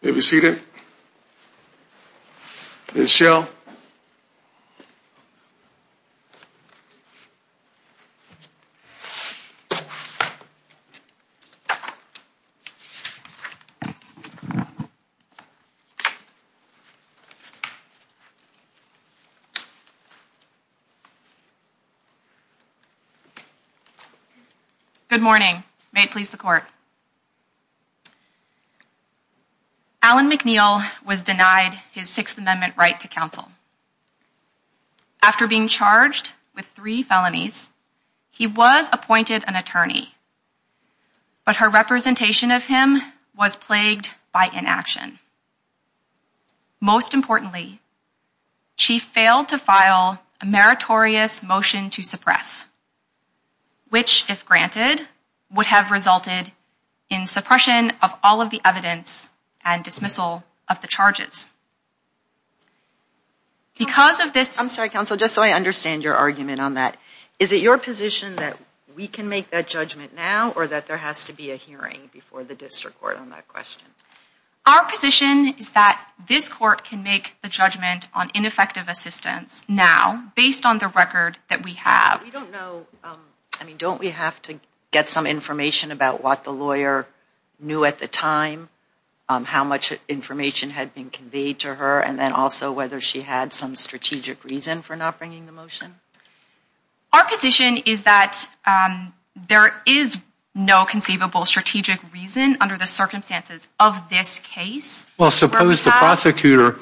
They may remove that if you Alan McNeil was denied his Sixth Amendment right to counsel After being charged with three felonies, he was appointed an attorney But her representation of him was plagued by inaction Most importantly She failed to file a meritorious motion to suppress Which if granted would have resulted in suppression of all of the evidence and dismissal of the charges Because of this I'm sorry counsel just so I understand your argument on that Is it your position that? We can make that judgment now or that there has to be a hearing before the district court on that question Our position is that this court can make the judgment on ineffective assistance now based on the record that we have I mean don't we have to get some information about what the lawyer knew at the time How much information had been conveyed to her and then also whether she had some strategic reason for not bringing the motion? Our position is that There is no conceivable strategic reason under the circumstances of this case. Well suppose the prosecutor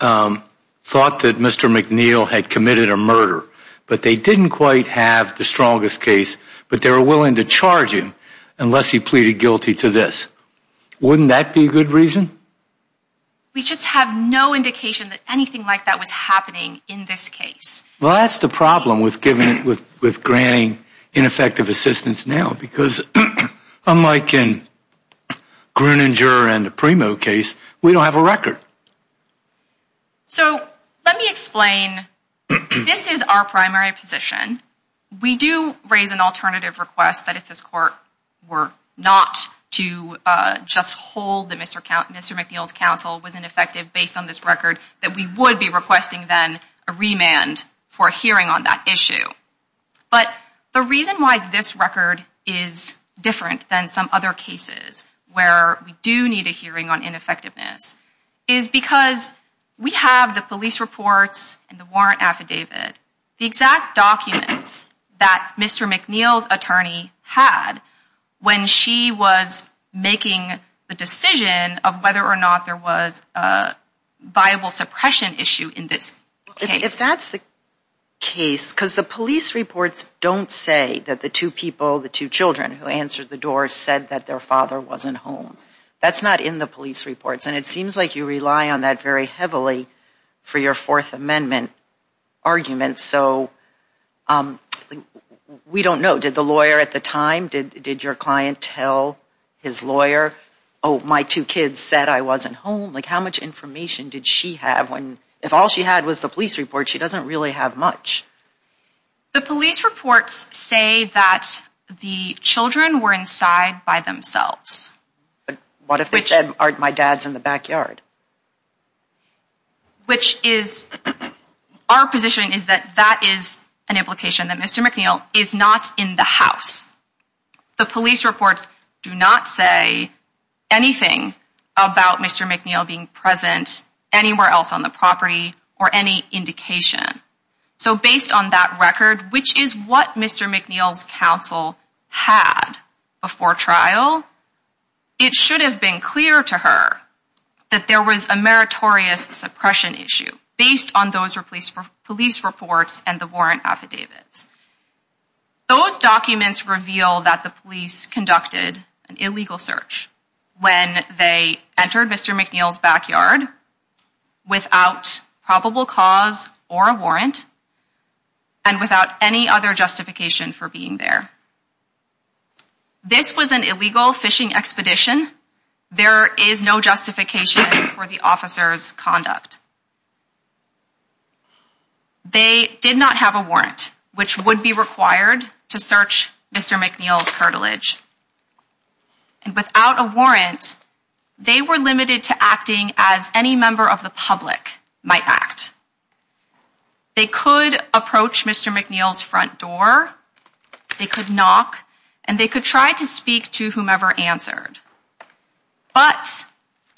Thought that mr. McNeil had committed a murder, but they didn't quite have the strongest case But they were willing to charge him unless he pleaded guilty to this Wouldn't that be a good reason? We just have no indication that anything like that was happening in this case well, that's the problem with giving it with with granting ineffective assistance now because unlike in Gruninger and the primo case we don't have a record So let me explain This is our primary position We do raise an alternative request that if this court were not to Just hold that Mr. McNeil's counsel was ineffective based on this record that we would be requesting then a remand for a hearing on that issue but the reason why this record is different than some other cases where we do need a hearing on ineffectiveness is Because we have the police reports and the warrant affidavit the exact documents that Mr. McNeil's attorney had when she was making the decision of whether or not there was a viable suppression issue in this case. If that's the Case because the police reports don't say that the two people the two children who answered the door said that their father wasn't home That's not in the police reports and it seems like you rely on that very heavily for your fourth amendment argument, so We don't know did the lawyer at the time did did your client tell his lawyer Oh my two kids said I wasn't home like how much information did she have when if all she had was the police report? She doesn't really have much the police reports say that the children were inside by themselves a What if they said aren't my dad's in the backyard? Which is Our position is that that is an implication that Mr. McNeil is not in the house The police reports do not say Anything about Mr. McNeil being present anywhere else on the property or any indication? So based on that record, which is what Mr. McNeil's counsel had before trial It should have been clear to her That there was a meritorious suppression issue based on those replaced for police reports and the warrant affidavits Those documents reveal that the police conducted an illegal search when they entered. Mr. McNeil's backyard without probable cause or a warrant and Without any other justification for being there This was an illegal fishing expedition there is no justification for the officers conduct They did not have a warrant which would be required to search. Mr. McNeil's cartilage and Without a warrant they were limited to acting as any member of the public might act They could approach. Mr. McNeil's front door They could knock and they could try to speak to whomever answered but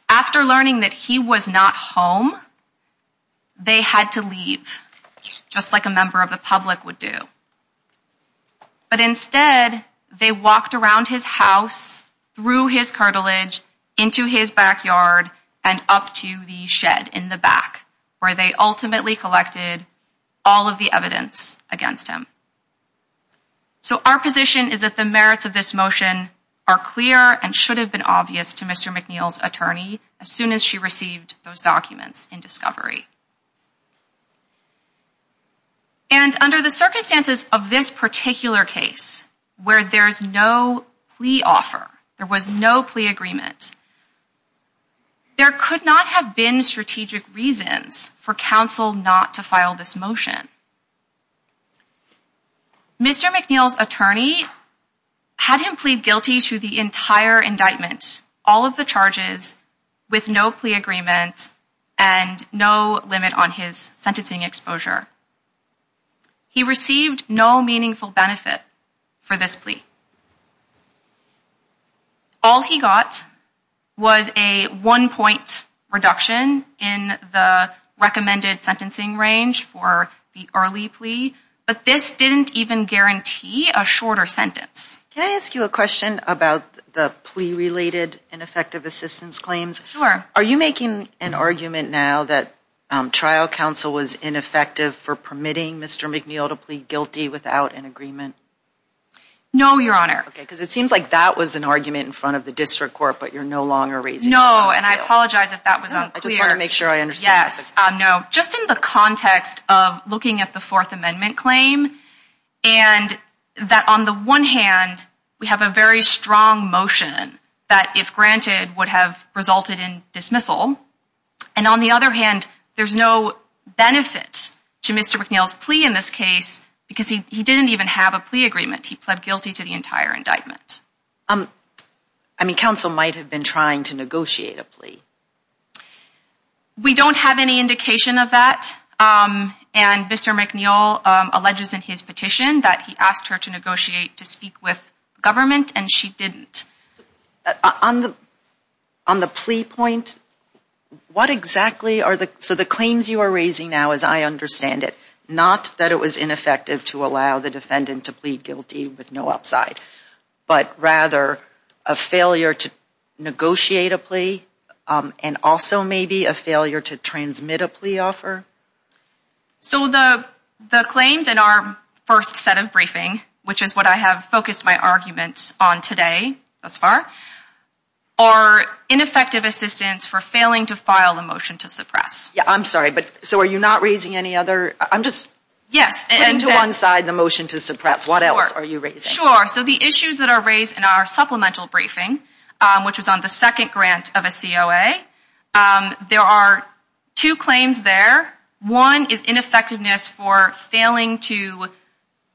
After learning that he was not home They had to leave Just like a member of the public would do But instead they walked around his house Through his cartilage into his backyard and up to the shed in the back where they ultimately collected All of the evidence against him So our position is that the merits of this motion are clear and should have been obvious to Mr. McNeil's attorney as soon as she received those documents in discovery And Under the circumstances of this particular case where there's no plea offer. There was no plea agreement There could not have been strategic reasons for counsel not to file this motion Mr. McNeil's attorney Had him plead guilty to the entire indictments all of the charges with no plea agreement and No limit on his sentencing exposure He received no meaningful benefit for this plea All he got Was a one-point reduction in the recommended sentencing range for the early plea But this didn't even guarantee a shorter sentence Can I ask you a question about the plea related and effective assistance claims? Sure, are you making an argument now that trial counsel was ineffective for permitting? Mr. McNeil to plead guilty without an agreement No, your honor because it seems like that was an argument in front of the district court But you're no longer raising. No, and I apologize if that was unclear. I just want to make sure I understand. Yes No, just in the context of looking at the Fourth Amendment claim and That on the one hand we have a very strong motion that if granted would have resulted in dismissal And on the other hand, there's no Benefits to Mr. McNeil's plea in this case because he didn't even have a plea agreement. He pled guilty to the entire indictment Um, I mean counsel might have been trying to negotiate a plea We don't have any indication of that And mr McNeil alleges in his petition that he asked her to negotiate to speak with government and she didn't on the on the plea point What exactly are the so the claims you are raising now as I understand it? Not that it was ineffective to allow the defendant to plead guilty with no upside but rather a failure to Negotiate a plea and also maybe a failure to transmit a plea offer so the the claims in our first set of briefing, which is what I have focused my arguments on today thus far our Ineffective assistance for failing to file the motion to suppress. Yeah, I'm sorry, but so are you not raising any other? I'm just yes and to one side the motion to suppress. What else are you sure? So the issues that are raised in our supplemental briefing, which was on the second grant of a COA There are two claims there. One is ineffectiveness for failing to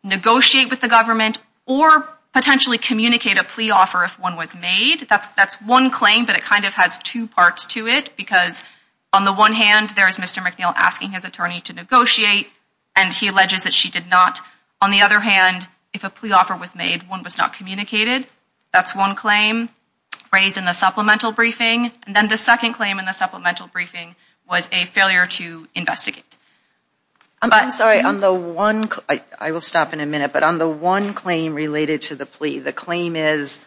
negotiate with the government or Potentially communicate a plea offer if one was made that's that's one claim But it kind of has two parts to it because on the one hand there is mr McNeil asking his attorney to negotiate and he alleges that she did not on the other hand If a plea offer was made one was not communicated. That's one claim Raised in the supplemental briefing and then the second claim in the supplemental briefing was a failure to investigate I'm sorry on the one. I will stop in a minute, but on the one claim related to the plea the claim is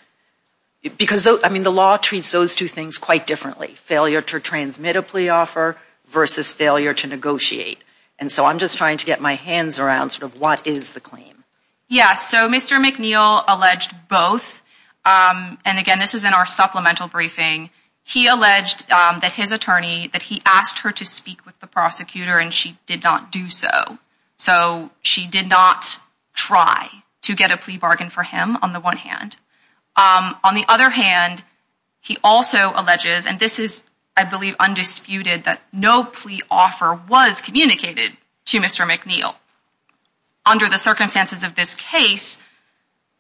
Because though I mean the law treats those two things quite differently failure to transmit a plea offer Versus failure to negotiate and so I'm just trying to get my hands around sort of what is the claim? Yes, so mr. McNeil alleged both And again, this is in our supplemental briefing He alleged that his attorney that he asked her to speak with the prosecutor and she did not do so So she did not try to get a plea bargain for him on the one hand on the other hand He also alleges and this is I believe undisputed that no plea offer was communicated to mr. McNeil Under the circumstances of this case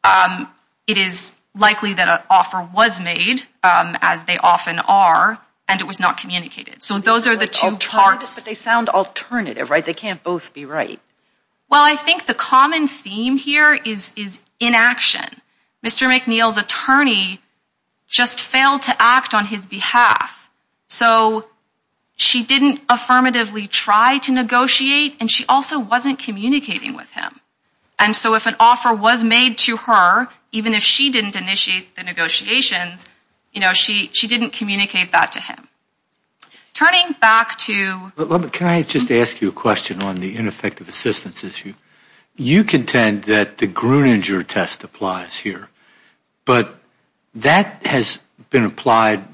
It is likely that an offer was made as they often are and it was not communicated So those are the two parts they sound alternative right they can't both be right well I think the common theme here is is inaction mr. McNeil's attorney Just failed to act on his behalf so She didn't affirmatively try to negotiate and she also wasn't communicating with him And so if an offer was made to her even if she didn't initiate the negotiations You know she she didn't communicate that to him turning back to Can I just ask you a question on the ineffective assistance issue you contend that the Gruninger test applies here? But that has been applied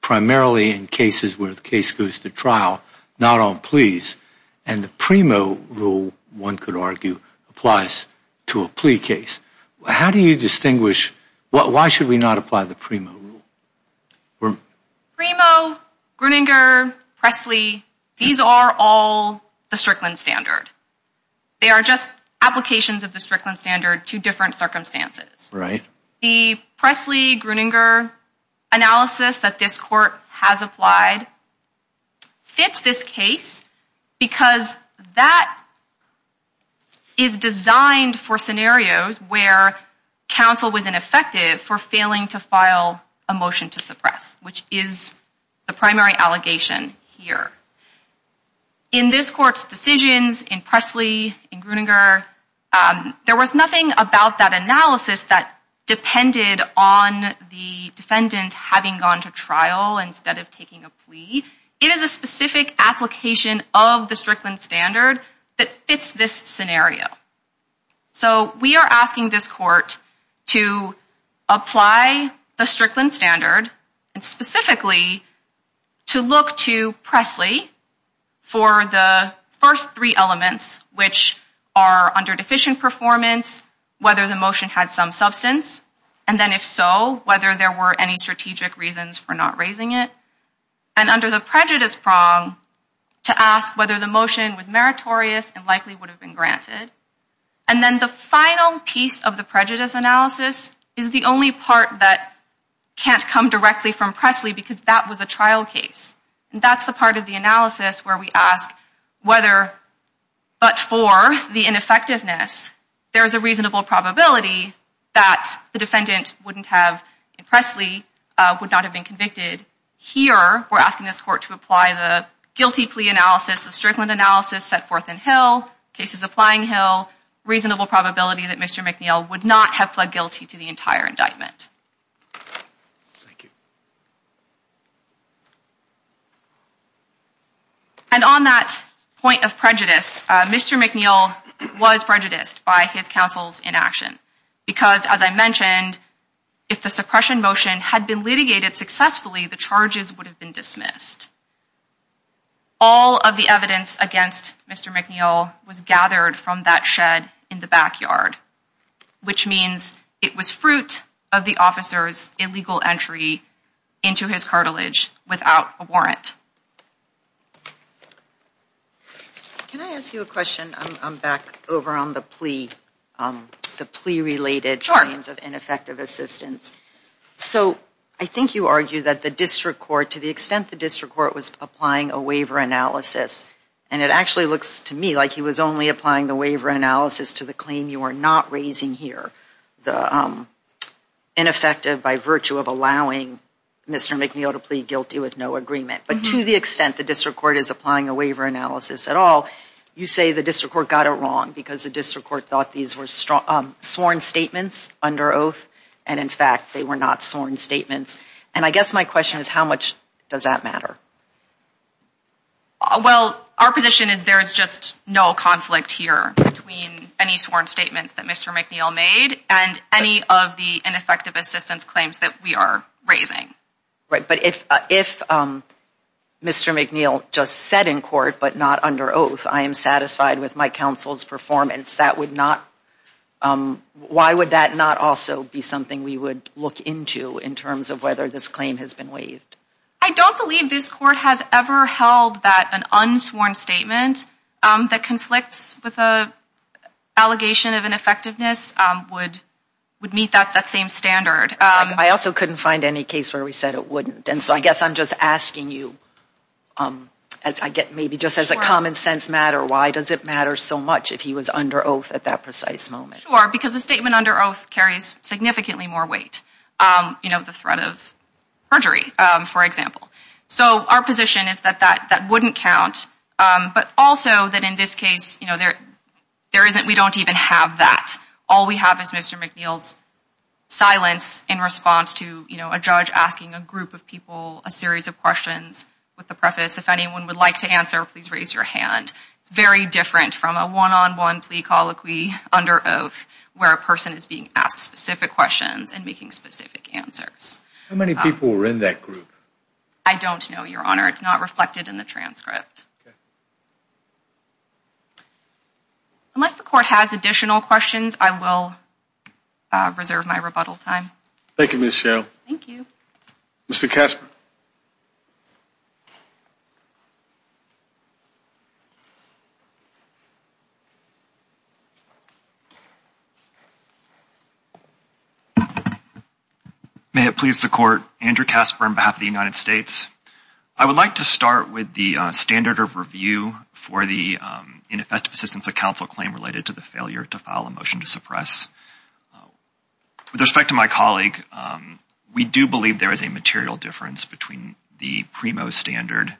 Primarily in cases where the case goes to trial not on pleas and the primo rule one could argue Applies to a plea case. How do you distinguish? What why should we not apply the primo rule? We're primo Gruninger Presley these are all the Strickland standard They are just applications of the Strickland standard to different circumstances right the Presley Gruninger Analysis that this court has applied fits this case because that is designed for scenarios where Counsel was ineffective for failing to file a motion to suppress which is the primary allegation here in this courts decisions in Presley in Gruninger there was nothing about that analysis that Depended on the defendant having gone to trial instead of taking a plea It is a specific application of the Strickland standard that fits this scenario so we are asking this court to apply the Strickland standard and specifically to look to Presley For the first three elements which are under deficient performance Whether the motion had some substance and then if so whether there were any strategic reasons for not raising it and under the prejudice prong to ask whether the motion was meritorious and likely would have been granted and then the final piece of the prejudice analysis is the only part that Can't come directly from Presley because that was a trial case and that's the part of the analysis where we ask whether But for the ineffectiveness There is a reasonable probability that the defendant wouldn't have in Presley would not have been convicted Here we're asking this court to apply the guilty plea analysis the Strickland analysis set forth in Hill cases applying Hill Reasonable probability that Mr. McNeil would not have pled guilty to the entire indictment And On that point of prejudice, Mr. McNeil was prejudiced by his counsel's inaction Because as I mentioned if the suppression motion had been litigated successfully the charges would have been dismissed All of the evidence against Mr. McNeil was gathered from that shed in the backyard Which means it was fruit of the officers illegal entry into his cartilage without a warrant Can I ask you a question I'm back over on the plea the plea related charge of ineffective assistance So I think you argue that the district court to the extent the district court was applying a waiver Analysis and it actually looks to me like he was only applying the waiver analysis to the claim. You are not raising here the Ineffective by virtue of allowing Mr. McNeil to plead guilty with no agreement But to the extent the district court is applying a waiver analysis at all You say the district court got it wrong because the district court thought these were strong Sworn statements under oath and in fact, they were not sworn statements. And I guess my question is how much does that matter? Well, our position is there's just no conflict here between any sworn statements that mr McNeil made and any of the ineffective assistance claims that we are raising right, but if if Mr. McNeil just said in court, but not under oath. I am satisfied with my counsel's performance. That would not Why would that not also be something we would look into in terms of whether this claim has been waived? I don't believe this court has ever held that an unsworn statement that conflicts with a Allegation of ineffectiveness would would meet that that same standard I also couldn't find any case where we said it wouldn't and so I guess I'm just asking you Um as I get maybe just as a common-sense matter Why does it matter so much if he was under oath at that precise moment or because the statement under oath carries significantly more weight you know the threat of Perjury, for example, so our position is that that that wouldn't count But also that in this case, you know, there there isn't we don't even have that all we have is mr. McNeil's Silence in response to you know A judge asking a group of people a series of questions with the preface if anyone would like to answer Please raise your hand It's very different from a one-on-one plea colloquy Under oath where a person is being asked specific questions and making specific answers how many people were in that group? I don't know your honor. It's not reflected in the transcript Unless the court has additional questions, I will Reserve my rebuttal time. Thank you miss Cheryl. Thank you. Mr. Kasper I Would like to start with the standard of review for the Ineffective assistance of counsel claim related to the failure to file a motion to suppress With respect to my colleague We do believe there is a material difference between the primo standard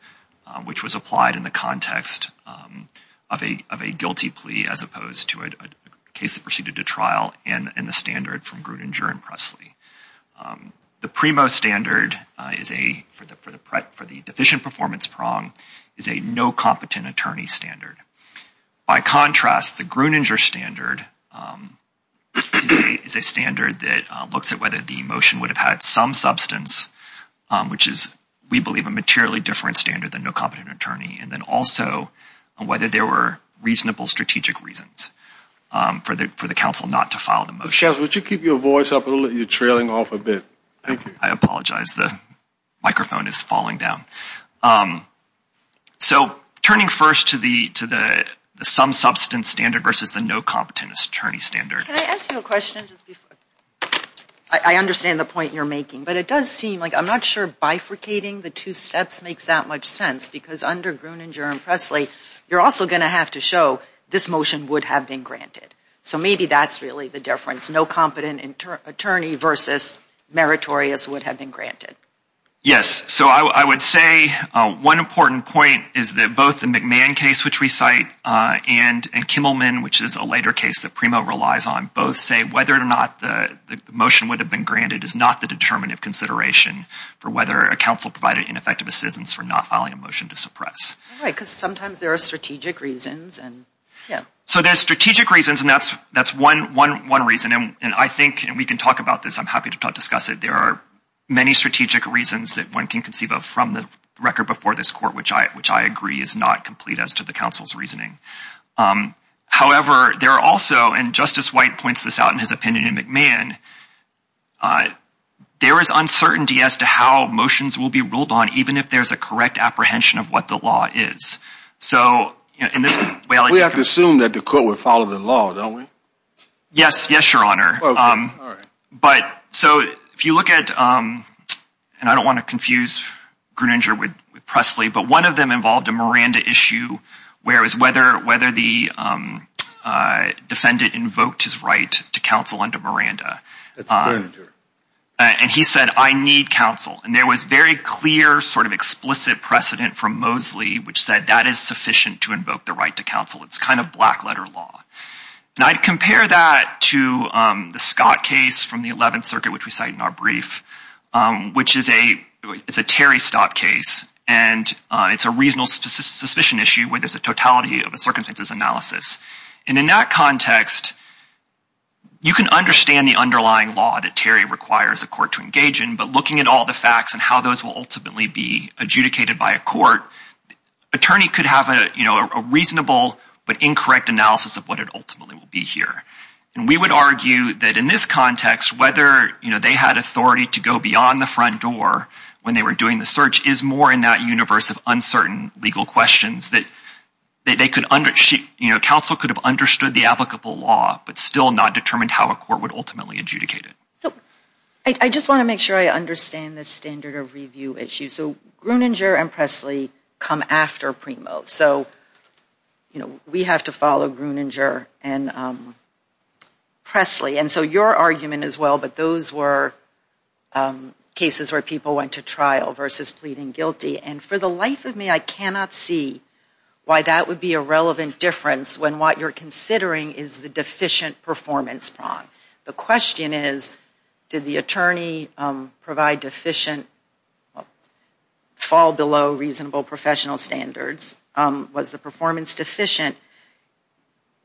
which was applied in the context Of a of a guilty plea as opposed to a case that proceeded to trial and in the standard from Gruninger and Presley The primo standard is a for the for the prep for the deficient performance prong is a no competent attorney standard by contrast the Gruninger standard Is a standard that looks at whether the motion would have had some substance which is we believe a materially different standard than no competent attorney and then also Whether there were reasonable strategic reasons For the for the council not to file the motion. Would you keep your voice up a little you're trailing off a bit Thank you. I apologize. The Microphone is falling down So turning first to the to the some substance standard versus the no competent attorney standard I Understand the point you're making but it does seem like I'm not sure Bifurcating the two steps makes that much sense because under Gruninger and Presley You're also gonna have to show this motion would have been granted. So maybe that's really the difference no competent attorney versus Meritorious would have been granted. Yes So I would say one important point is that both the McMahon case which we cite and and Kimmelman which is a later case that primo relies on both say whether or not the Motion would have been granted is not the determinative consideration For whether a council provided ineffective assistance for not filing a motion to suppress All right, because sometimes there are strategic reasons and yeah So there's strategic reasons and that's that's one one one reason and I think and we can talk about this I'm happy to discuss it There are many strategic reasons that one can conceive of from the record before this court Which I which I agree is not complete as to the council's reasoning However, there are also and Justice White points this out in his opinion in McMahon There is uncertainty as to how motions will be ruled on even if there's a correct apprehension of what the law is So in this way, we have to assume that the court would follow the law, don't we? Yes. Yes, your honor but so if you look at And I don't want to confuse Gruninger with Presley, but one of them involved a Miranda issue. Where was whether whether the Defendant invoked his right to counsel under Miranda And he said I need counsel and there was very clear sort of explicit precedent from Mosley Which said that is sufficient to invoke the right to counsel. It's kind of black letter law And I'd compare that to the Scott case from the 11th Circuit, which we cite in our brief which is a it's a Terry stop case and It's a reasonable suspicion issue where there's a totality of a circumstances analysis and in that context You can understand the underlying law that Terry requires the court to engage in but looking at all the facts and how those will ultimately be adjudicated by a court Attorney could have a you know, a reasonable but incorrect analysis of what it ultimately will be here And we would argue that in this context whether you know they had authority to go beyond the front door when they were doing the search is more in that universe of uncertain legal questions that That they could under sheet, you know Counsel could have understood the applicable law but still not determined how a court would ultimately adjudicate it So I just want to make sure I understand this standard of review issue. So Gruninger and Presley come after Primo so you know, we have to follow Gruninger and Presley and so your argument as well, but those were Cases where people went to trial versus pleading guilty and for the life of me I cannot see why that would be a relevant difference when what you're considering is the deficient performance prong The question is did the attorney? provide deficient Fall below reasonable professional standards was the performance deficient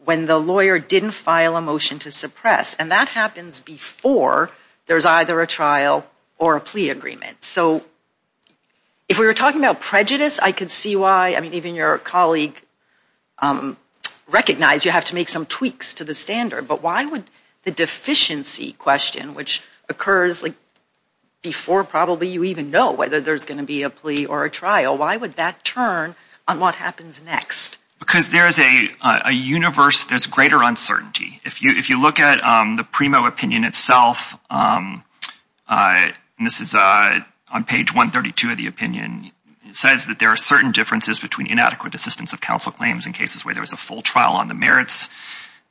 When the lawyer didn't file a motion to suppress and that happens before There's either a trial or a plea agreement. So If we were talking about prejudice, I could see why I mean even your colleague Recognize you have to make some tweaks to the standard, but why would the deficiency question which occurs like Before probably you even know whether there's gonna be a plea or a trial Why would that turn on what happens next because there is a a universe? There's greater uncertainty if you if you look at the Primo opinion itself And this is a on page 132 of the opinion it says that there are certain differences between inadequate assistance of counsel claims in cases where there was a full trial on the merits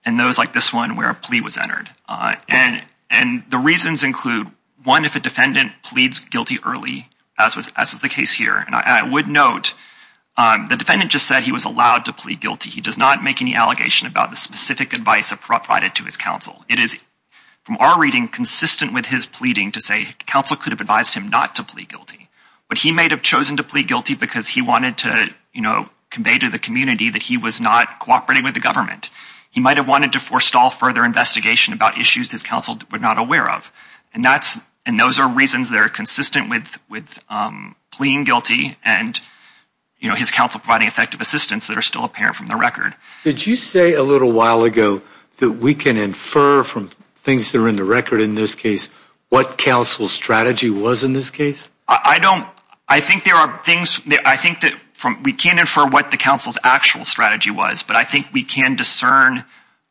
and Those like this one where a plea was entered And and the reasons include one if a defendant pleads guilty early as was as was the case here And I would note The defendant just said he was allowed to plead guilty He does not make any allegation about the specific advice appropriated to his counsel It is from our reading consistent with his pleading to say counsel could have advised him not to plead guilty But he may have chosen to plead guilty because he wanted to you know Convey to the community that he was not cooperating with the government He might have wanted to forestall further investigation about issues his counsel would not aware of and that's and those are reasons they're consistent with with Pleaing guilty and You know his counsel providing effective assistance that are still apparent from the record Did you say a little while ago that we can infer from things that are in the record in this case? What counsel strategy was in this case? I don't I think there are things I think that from we can't infer what the council's actual strategy was But I think we can discern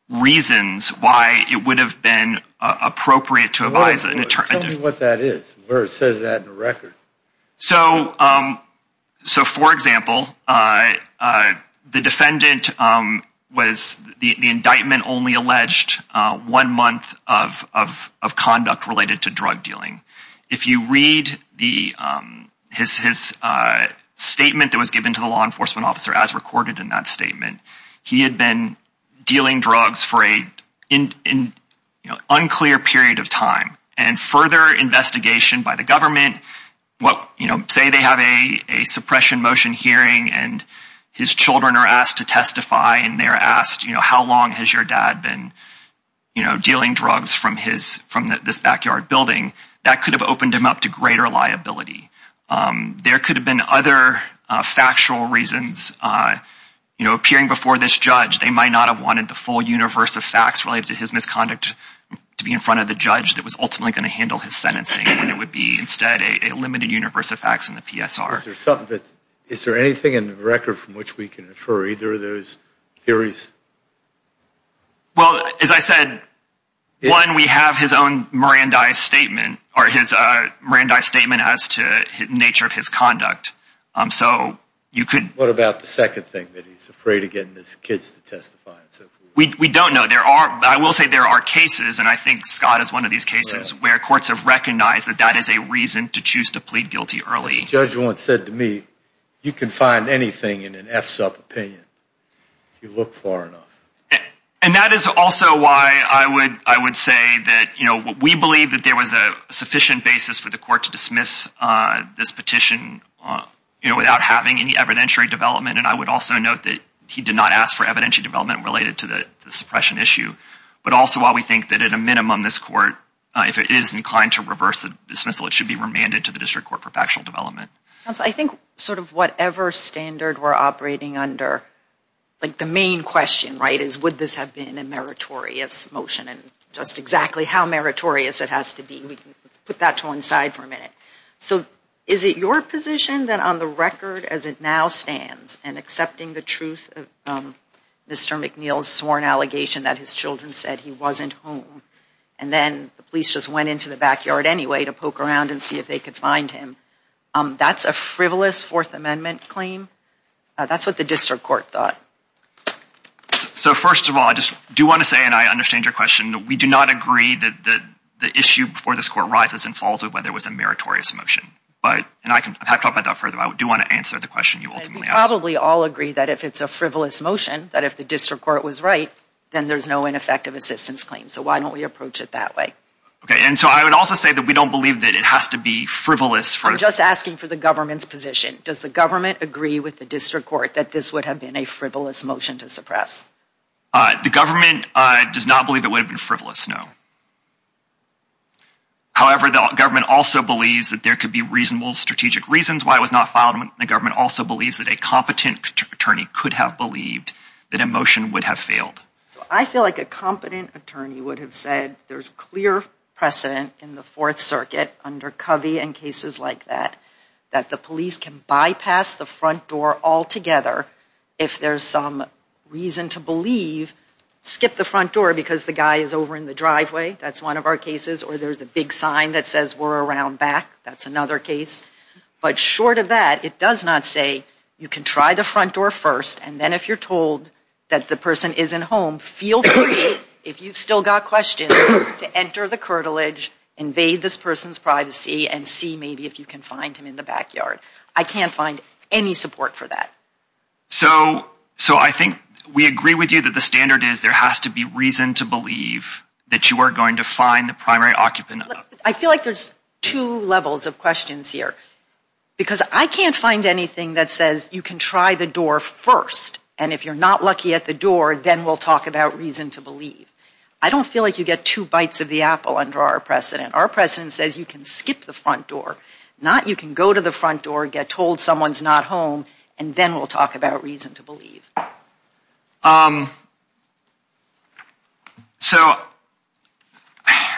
Reasons why it would have been Appropriate to advise an attorney what that is where it says that in the record so so for example the defendant was the indictment only alleged one month of Conduct related to drug dealing if you read the his his Statement that was given to the law enforcement officer as recorded in that statement. He had been dealing drugs for a in You know unclear period of time and further investigation by the government Well, you know say they have a Suppression motion hearing and his children are asked to testify and they're asked, you know, how long has your dad been? You know dealing drugs from his from this backyard building that could have opened him up to greater liability There could have been other factual reasons You know appearing before this judge They might not have wanted the full universe of facts related to his misconduct To be in front of the judge that was ultimately going to handle his sentencing and it would be instead a limited universe of facts In the PSR. There's something that is there anything in the record from which we can infer either of those theories? Well as I said One we have his own Mirandai statement or his Mirandai statement as to nature of his conduct Um, so you could what about the second thing that he's afraid of getting his kids to testify We don't know there are I will say there are cases and I think Scott is one of these cases where courts have recognized That that is a reason to choose to plead guilty early judge once said to me you can find anything in an f-sup opinion You look for and that is also why I would I would say that you know We believe that there was a sufficient basis for the court to dismiss this petition You know without having any evidentiary development and I would also note that he did not ask for evidentiary development related to the suppression issue But also while we think that at a minimum this court If it is inclined to reverse the dismissal, it should be remanded to the district court for factional development That's I think sort of whatever standard we're operating under Like the main question right is would this have been a meritorious motion and just exactly how meritorious it has to be Put that to one side for a minute So is it your position that on the record as it now stands and accepting the truth? Mr. McNeil's sworn allegation that his children said he wasn't home and then the police just went into the backyard Anyway to poke around and see if they could find him. Um, that's a frivolous Fourth Amendment claim That's what the district court thought So first of all, I just do want to say and I understand your question We do not agree that the issue before this court rises and falls with whether it was a meritorious motion But and I can talk about that further I do want to answer the question you ultimately probably all agree that if it's a frivolous motion that if the district court was right Then there's no ineffective assistance claim. So why don't we approach it that way? Okay And so I would also say that we don't believe that it has to be frivolous for just asking for the government's position Does the government agree with the district court that this would have been a frivolous motion to suppress? The government does not believe it would have been frivolous. No However, the government also believes that there could be reasonable strategic reasons Why was not filed when the government also believes that a competent attorney could have believed that a motion would have failed I feel like a competent attorney would have said there's clear Precedent in the Fourth Circuit under Covey and cases like that that the police can bypass the front door altogether If there's some reason to believe Skip the front door because the guy is over in the driveway That's one of our cases or there's a big sign that says we're around back. That's another case But short of that it does not say you can try the front door first And then if you're told that the person isn't home feel free if you've still got questions to enter the curtilage Invade this person's privacy and see maybe if you can find him in the backyard. I can't find any support for that So so I think we agree with you that the standard is there has to be reason to believe That you are going to find the primary occupant. I feel like there's two levels of questions here Because I can't find anything that says you can try the door first And if you're not lucky at the door, then we'll talk about reason to believe I don't feel like you get two bites of the apple under our precedent Our president says you can skip the front door not you can go to the front door get told someone's not home And then we'll talk about reason to believe So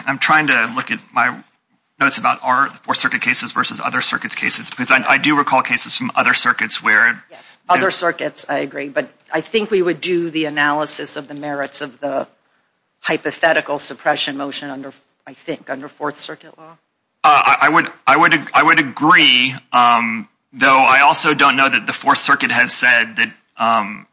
I'm trying to look at my Notes about our four circuit cases versus other circuits cases because I do recall cases from other circuits where yes other circuits I agree, but I think we would do the analysis of the merits of the Hypothetical suppression motion under I think under Fourth Circuit law. I would I would I would agree Though I also don't know that the Fourth Circuit has said that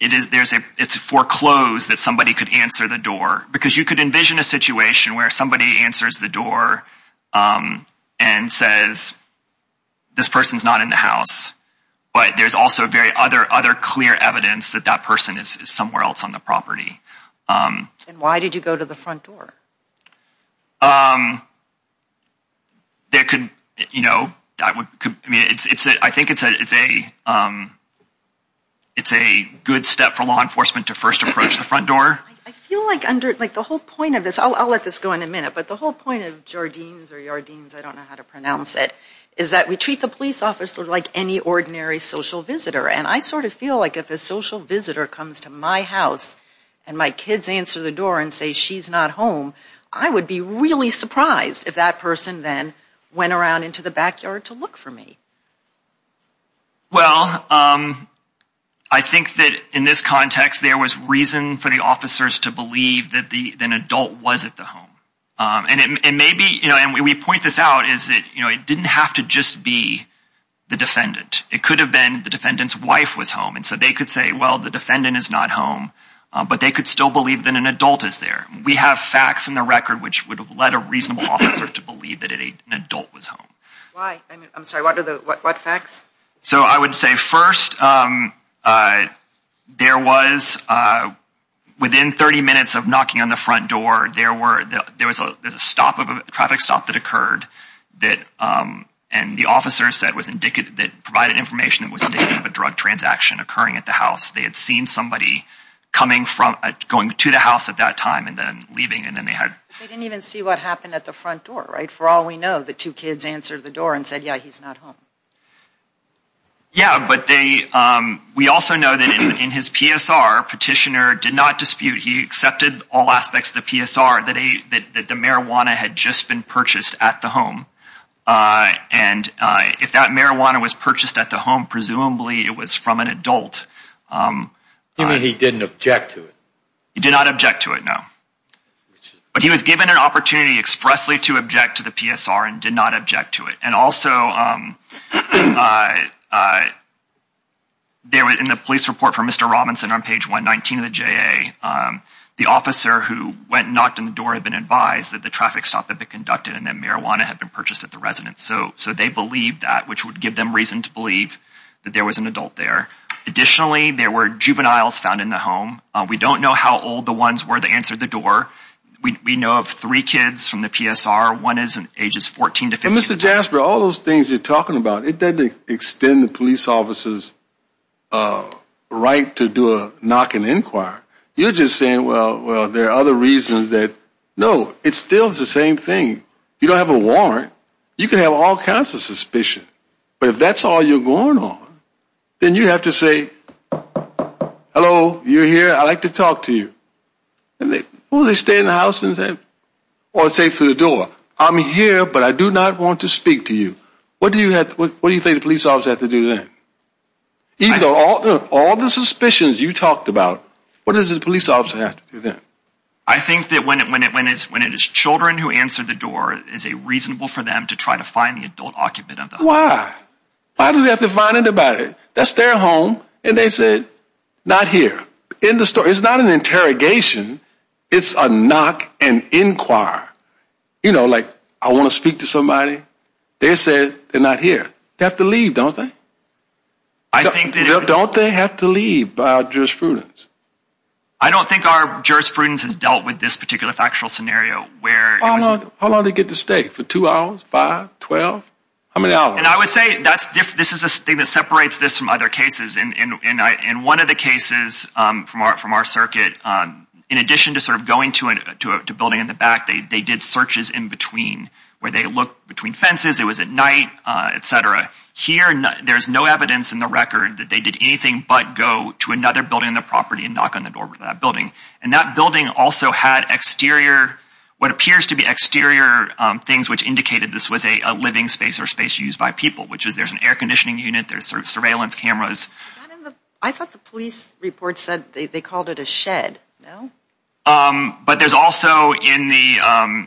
It is there's a it's a foreclosed that somebody could answer the door because you could envision a situation where somebody answers the door and says This person's not in the house But there's also a very other other clear evidence that that person is somewhere else on the property And why did you go to the front door? Um That could you know that would I mean it's it's it I think it's a it's a It's a good step for law enforcement to first approach the front door I feel like under like the whole point of this I'll let this go in a minute But the whole point of Jardine's or your deans I don't know how to pronounce it is that we treat the police officer like any ordinary social visitor And I sort of feel like if a social visitor comes to my house and my kids answer the door and say she's not home I would be really surprised if that person then went around into the backyard to look for me Well um I Think that in this context there was reason for the officers to believe that the an adult was at the home And it may be you know and we point this out is that you know it didn't have to just be The defendant it could have been the defendant's wife was home, and so they could say well the defendant is not home But they could still believe that an adult is there we have facts in the record Which would have led a reasonable officer to believe that an adult was home? So I would say first There was Within 30 minutes of knocking on the front door there were there was a there's a stop of a traffic stop that occurred That and the officer said was indicative that provided information that was a drug transaction occurring at the house They had seen somebody Coming from going to the house at that time and then leaving and then they had They didn't even see what happened at the front door right for all we know the two kids answered the door and said yeah He's not home Yeah, but they We also know that in his PSR petitioner did not dispute He accepted all aspects the PSR that a that the marijuana had just been purchased at the home And if that marijuana was purchased at the home presumably it was from an adult Even he didn't object to it he did not object to it now But he was given an opportunity expressly to object to the PSR and did not object to it and also There was in the police report for mr. Robinson on page 119 of the JA The officer who went knocked on the door had been advised that the traffic stop had been conducted and then marijuana had been purchased at The residence so so they believed that which would give them reason to believe that there was an adult there Additionally there were juveniles found in the home. We don't know how old the ones were the answer the door We know of three kids from the PSR one is in ages 14 to 15 mr. Jasper all those things you're talking about it Doesn't extend the police officers Right to do a knock and inquire you're just saying well Well, there are other reasons that no it still is the same thing you don't have a warrant You can have all kinds of suspicion, but if that's all you're going on Then you have to say Hello, you're here. I like to talk to you And they will they stay in the house and say or say to the door. I'm here, but I do not want to speak to you What do you have what do you think the police officer have to do that? Either all all the suspicions you talked about what is the police officer have to do that? I think that when it when it when it's when it is children who answered the door is a Reasonable for them to try to find the adult occupant of the wire Why do we have to find it about it, that's their home, and they said not here in the store It's not an interrogation It's a knock and inquire You know like I want to speak to somebody they said they're not here. They have to leave don't they I? Think don't they have to leave by jurisprudence. I don't think our jurisprudence has dealt with this particular factual scenario where How long they get to stay for two hours five twelve How many hours and I would say that's this is a thing that separates this from other cases and in one of the cases From art from our circuit on in addition to sort of going to it to a building in the back They did searches in between where they look between fences it was at night Etc here, and there's no evidence in the record that they did anything But go to another building in the property and knock on the door with that building and that building also had exterior What appears to be exterior things which indicated this was a living space or space used by people which is there's an air-conditioning unit There's surveillance cameras. I thought the police report said they called it a shed but there's also in the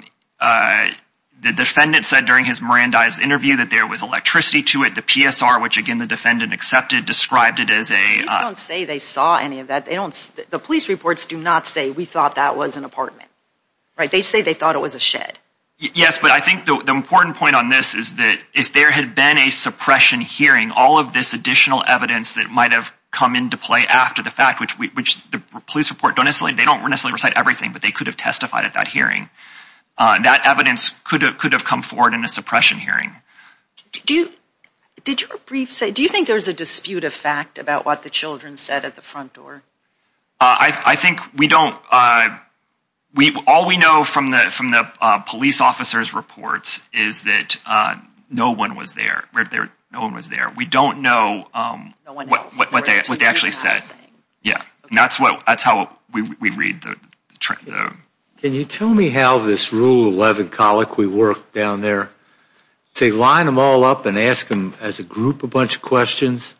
The defendant said during his Miranda's interview that there was electricity to it the PSR which again the defendant accepted described it as a Say they saw any of that. They don't the police reports do not say we thought that was an apartment They say they thought it was a shed Yes but I think the important point on this is that if there had been a Suppression hearing all of this additional evidence that might have come into play after the fact which we which the police report don't necessarily They don't necessarily recite everything, but they could have testified at that hearing That evidence could have could have come forward in a suppression hearing Do you did you a brief say do you think there's a dispute of fact about what the children said at the front door? I Think we don't We all we know from the from the police officers reports is that No one was there right there. No one was there. We don't know What what they what they actually said? Yeah, that's what that's how we read the Can you tell me how this rule 11 colic we work down there? To line them all up and ask them as a group a bunch of questions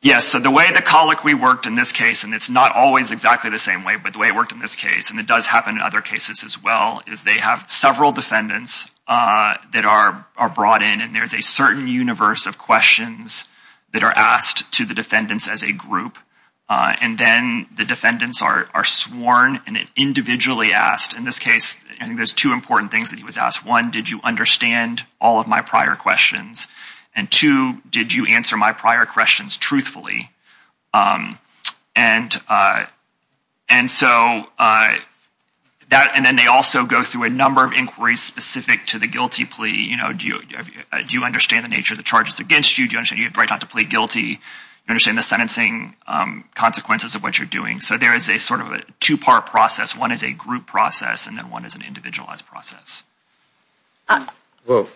Yes, so the way the colic we worked in this case, and it's not always exactly the same way But the way it worked in this case, and it does happen in other cases as well is they have several defendants That are brought in and there's a certain universe of questions that are asked to the defendants as a group And then the defendants are sworn and it individually asked in this case I think there's two important things that he was asked one Did you understand all of my prior questions and two did you answer my prior questions truthfully? and And so That and then they also go through a number of inquiries specific to the guilty plea, you know Do you do you understand the nature of the charges against you? Do you understand you have right not to plead guilty? understanding the sentencing Consequences of what you're doing. So there is a sort of a two-part process one is a group process and then one is an individualized process Well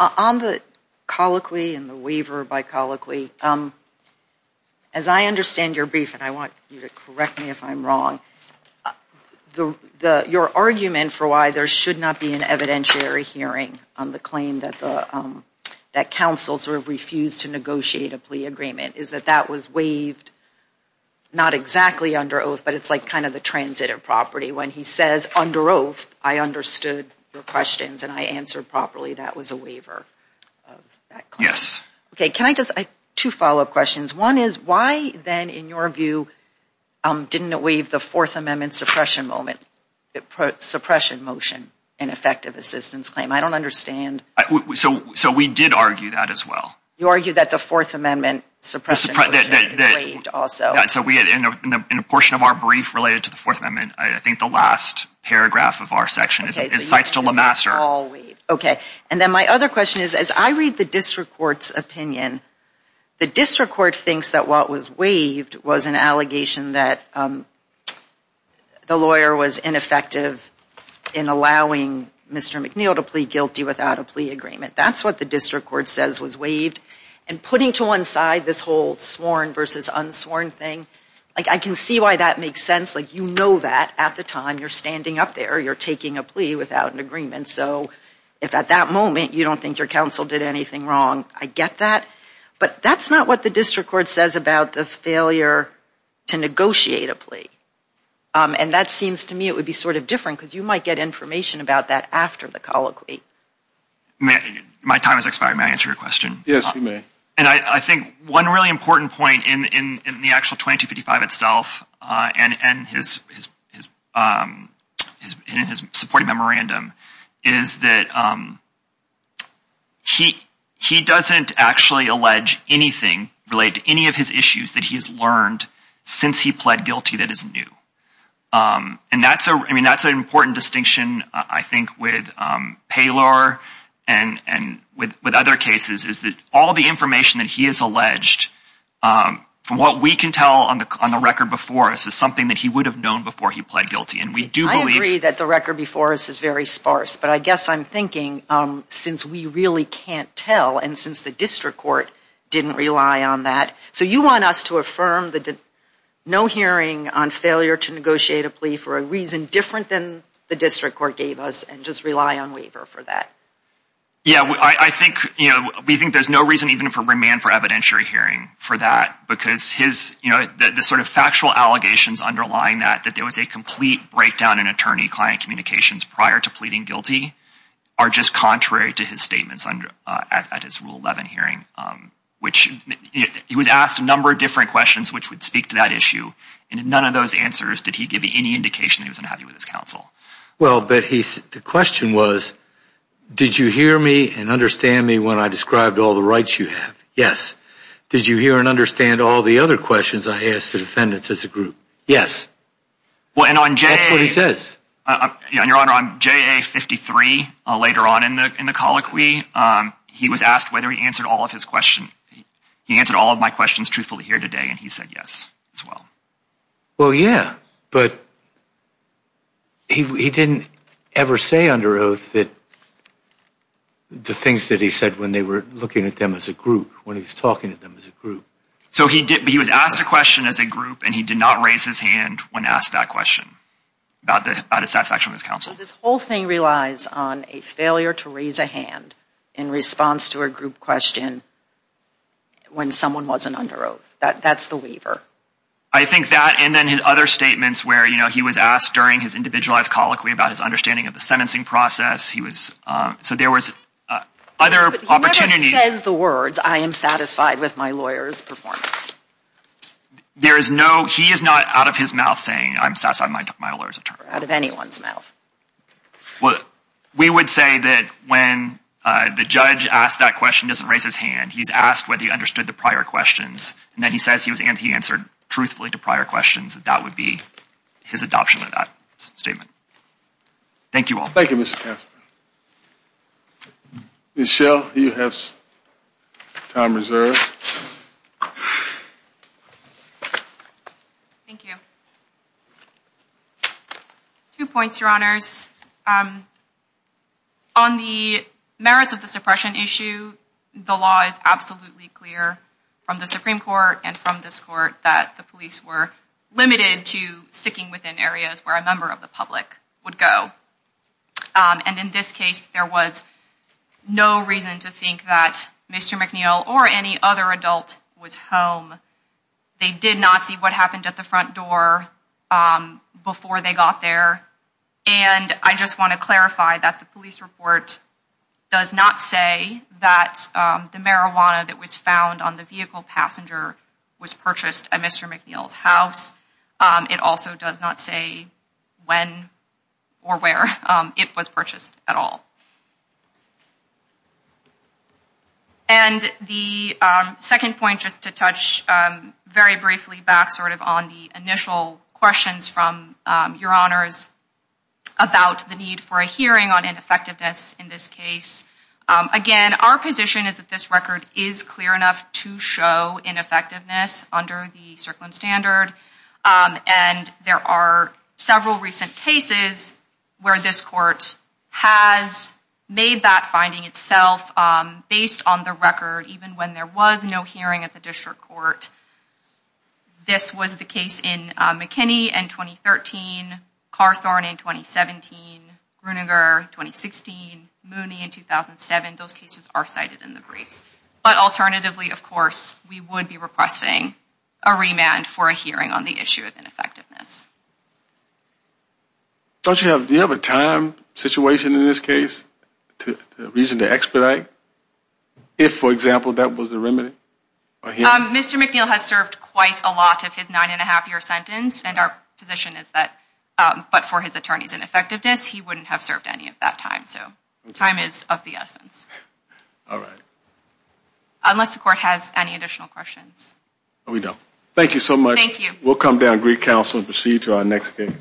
On the colloquy and the waiver by colloquy, um, as I understand your brief, and I want you to correct me if I'm wrong the the your argument for why there should not be an evidentiary hearing on the claim that the That counsel sort of refused to negotiate a plea agreement is that that was waived Not exactly under oath, but it's like kind of the transit of property when he says under oath I understood your questions and I answered properly that was a waiver Yes, okay. Can I just two follow-up questions? One is why then in your view? Didn't it waive the Fourth Amendment suppression moment? Suppression motion and effective assistance claim. I don't understand So so we did argue that as well. You argue that the Fourth Amendment suppress Also, so we had in a portion of our brief related to the Fourth Amendment I think the last paragraph of our section is it cites to LeMaster Okay, and then my other question is as I read the district courts opinion the district court thinks that what was waived was an allegation that The lawyer was ineffective in allowing mr. McNeil to plead guilty without a plea agreement That's what the district court says was waived and putting to one side this whole sworn versus unsworn thing Like I can see why that makes sense. Like, you know that at the time you're standing up there You're taking a plea without an agreement. So if at that moment, you don't think your counsel did anything wrong I get that but that's not what the district court says about the failure to negotiate a plea And that seems to me it would be sort of different because you might get information about that after the colloquy May my time is expired. May I answer your question? Yes, you may and I think one really important point in in the actual 2255 itself and and his Supporting memorandum is that He he doesn't actually allege anything relate to any of his issues that he has learned since he pled guilty that isn't new And that's a I mean, that's an important distinction. I think with Paylor and and with with other cases is that all the information that he is alleged From what we can tell on the on the record before us is something that he would have known before he pled guilty And we do believe that the record before us is very sparse But I guess I'm thinking since we really can't tell and since the district court didn't rely on that so you want us to affirm that No hearing on failure to negotiate a plea for a reason different than the district court gave us and just rely on waiver for that Yeah, I think you know We think there's no reason even for remand for evidentiary hearing for that because his you know The sort of factual allegations underlying that that there was a complete breakdown in attorney-client communications prior to pleading guilty Are just contrary to his statements under at his rule 11 hearing Which He was asked a number of different questions, which would speak to that issue and in none of those answers Did he give me any indication? He was unhappy with his counsel? Well, but he's the question was Did you hear me and understand me when I described all the rights you have? Yes Did you hear and understand all the other questions? I asked the defendants as a group. Yes Well, and on Jay says Your honor on JA-53 later on in the in the colloquy He was asked whether he answered all of his question. He answered all of my questions truthfully here today, and he said yes as well well, yeah, but He didn't ever say under oath that The things that he said when they were looking at them as a group when he was talking to them as a group So he did he was asked a question as a group and he did not raise his hand when asked that question About the satisfaction of his counsel this whole thing relies on a failure to raise a hand in response to a group question When someone wasn't under oath that that's the waiver I think that and then his other statements where you know He was asked during his individualized colloquy about his understanding of the sentencing process. He was so there was Other opportunities the words I am satisfied with my lawyers performance There is no he is not out of his mouth saying I'm satisfied my lawyers of turn out of anyone's mouth What we would say that when? The judge asked that question doesn't raise his hand He's asked whether he understood the prior questions And then he says he was and he answered truthfully to prior questions that that would be his adoption of that statement Thank you all. Thank you, mr. Casper Michelle he has time reserved Two points your honors on the merits of the suppression issue the law is absolutely clear From the Supreme Court and from this court that the police were Limited to sticking within areas where a member of the public would go And in this case there was No reason to think that mr. McNeil or any other adult was home They did not see what happened at the front door Before they got there, and I just want to clarify that the police report Does not say that the marijuana that was found on the vehicle passenger was purchased at mr. McNeil's house It also does not say When or where it was purchased at all? And The second point just to touch Very briefly back sort of on the initial questions from your honors About the need for a hearing on ineffectiveness in this case Again, our position is that this record is clear enough to show in effectiveness under the circling standard And there are several recent cases where this court has Made that finding itself based on the record even when there was no hearing at the district court This was the case in McKinney and 2013 Carthorne in 2017 Gruninger 2016 Mooney in 2007 those cases are cited in the briefs But alternatively of course we would be requesting a remand for a hearing on the issue of ineffectiveness Don't you have do you have a time situation in this case to reason to expedite If for example that was the remedy Mr.. McNeil has served quite a lot of his nine and a half year sentence and our position is that But for his attorneys and effectiveness he wouldn't have served any of that time so time is of the essence all right Unless the court has any additional questions. We don't thank you so much. Thank you We'll come down Greek Council and proceed to our next game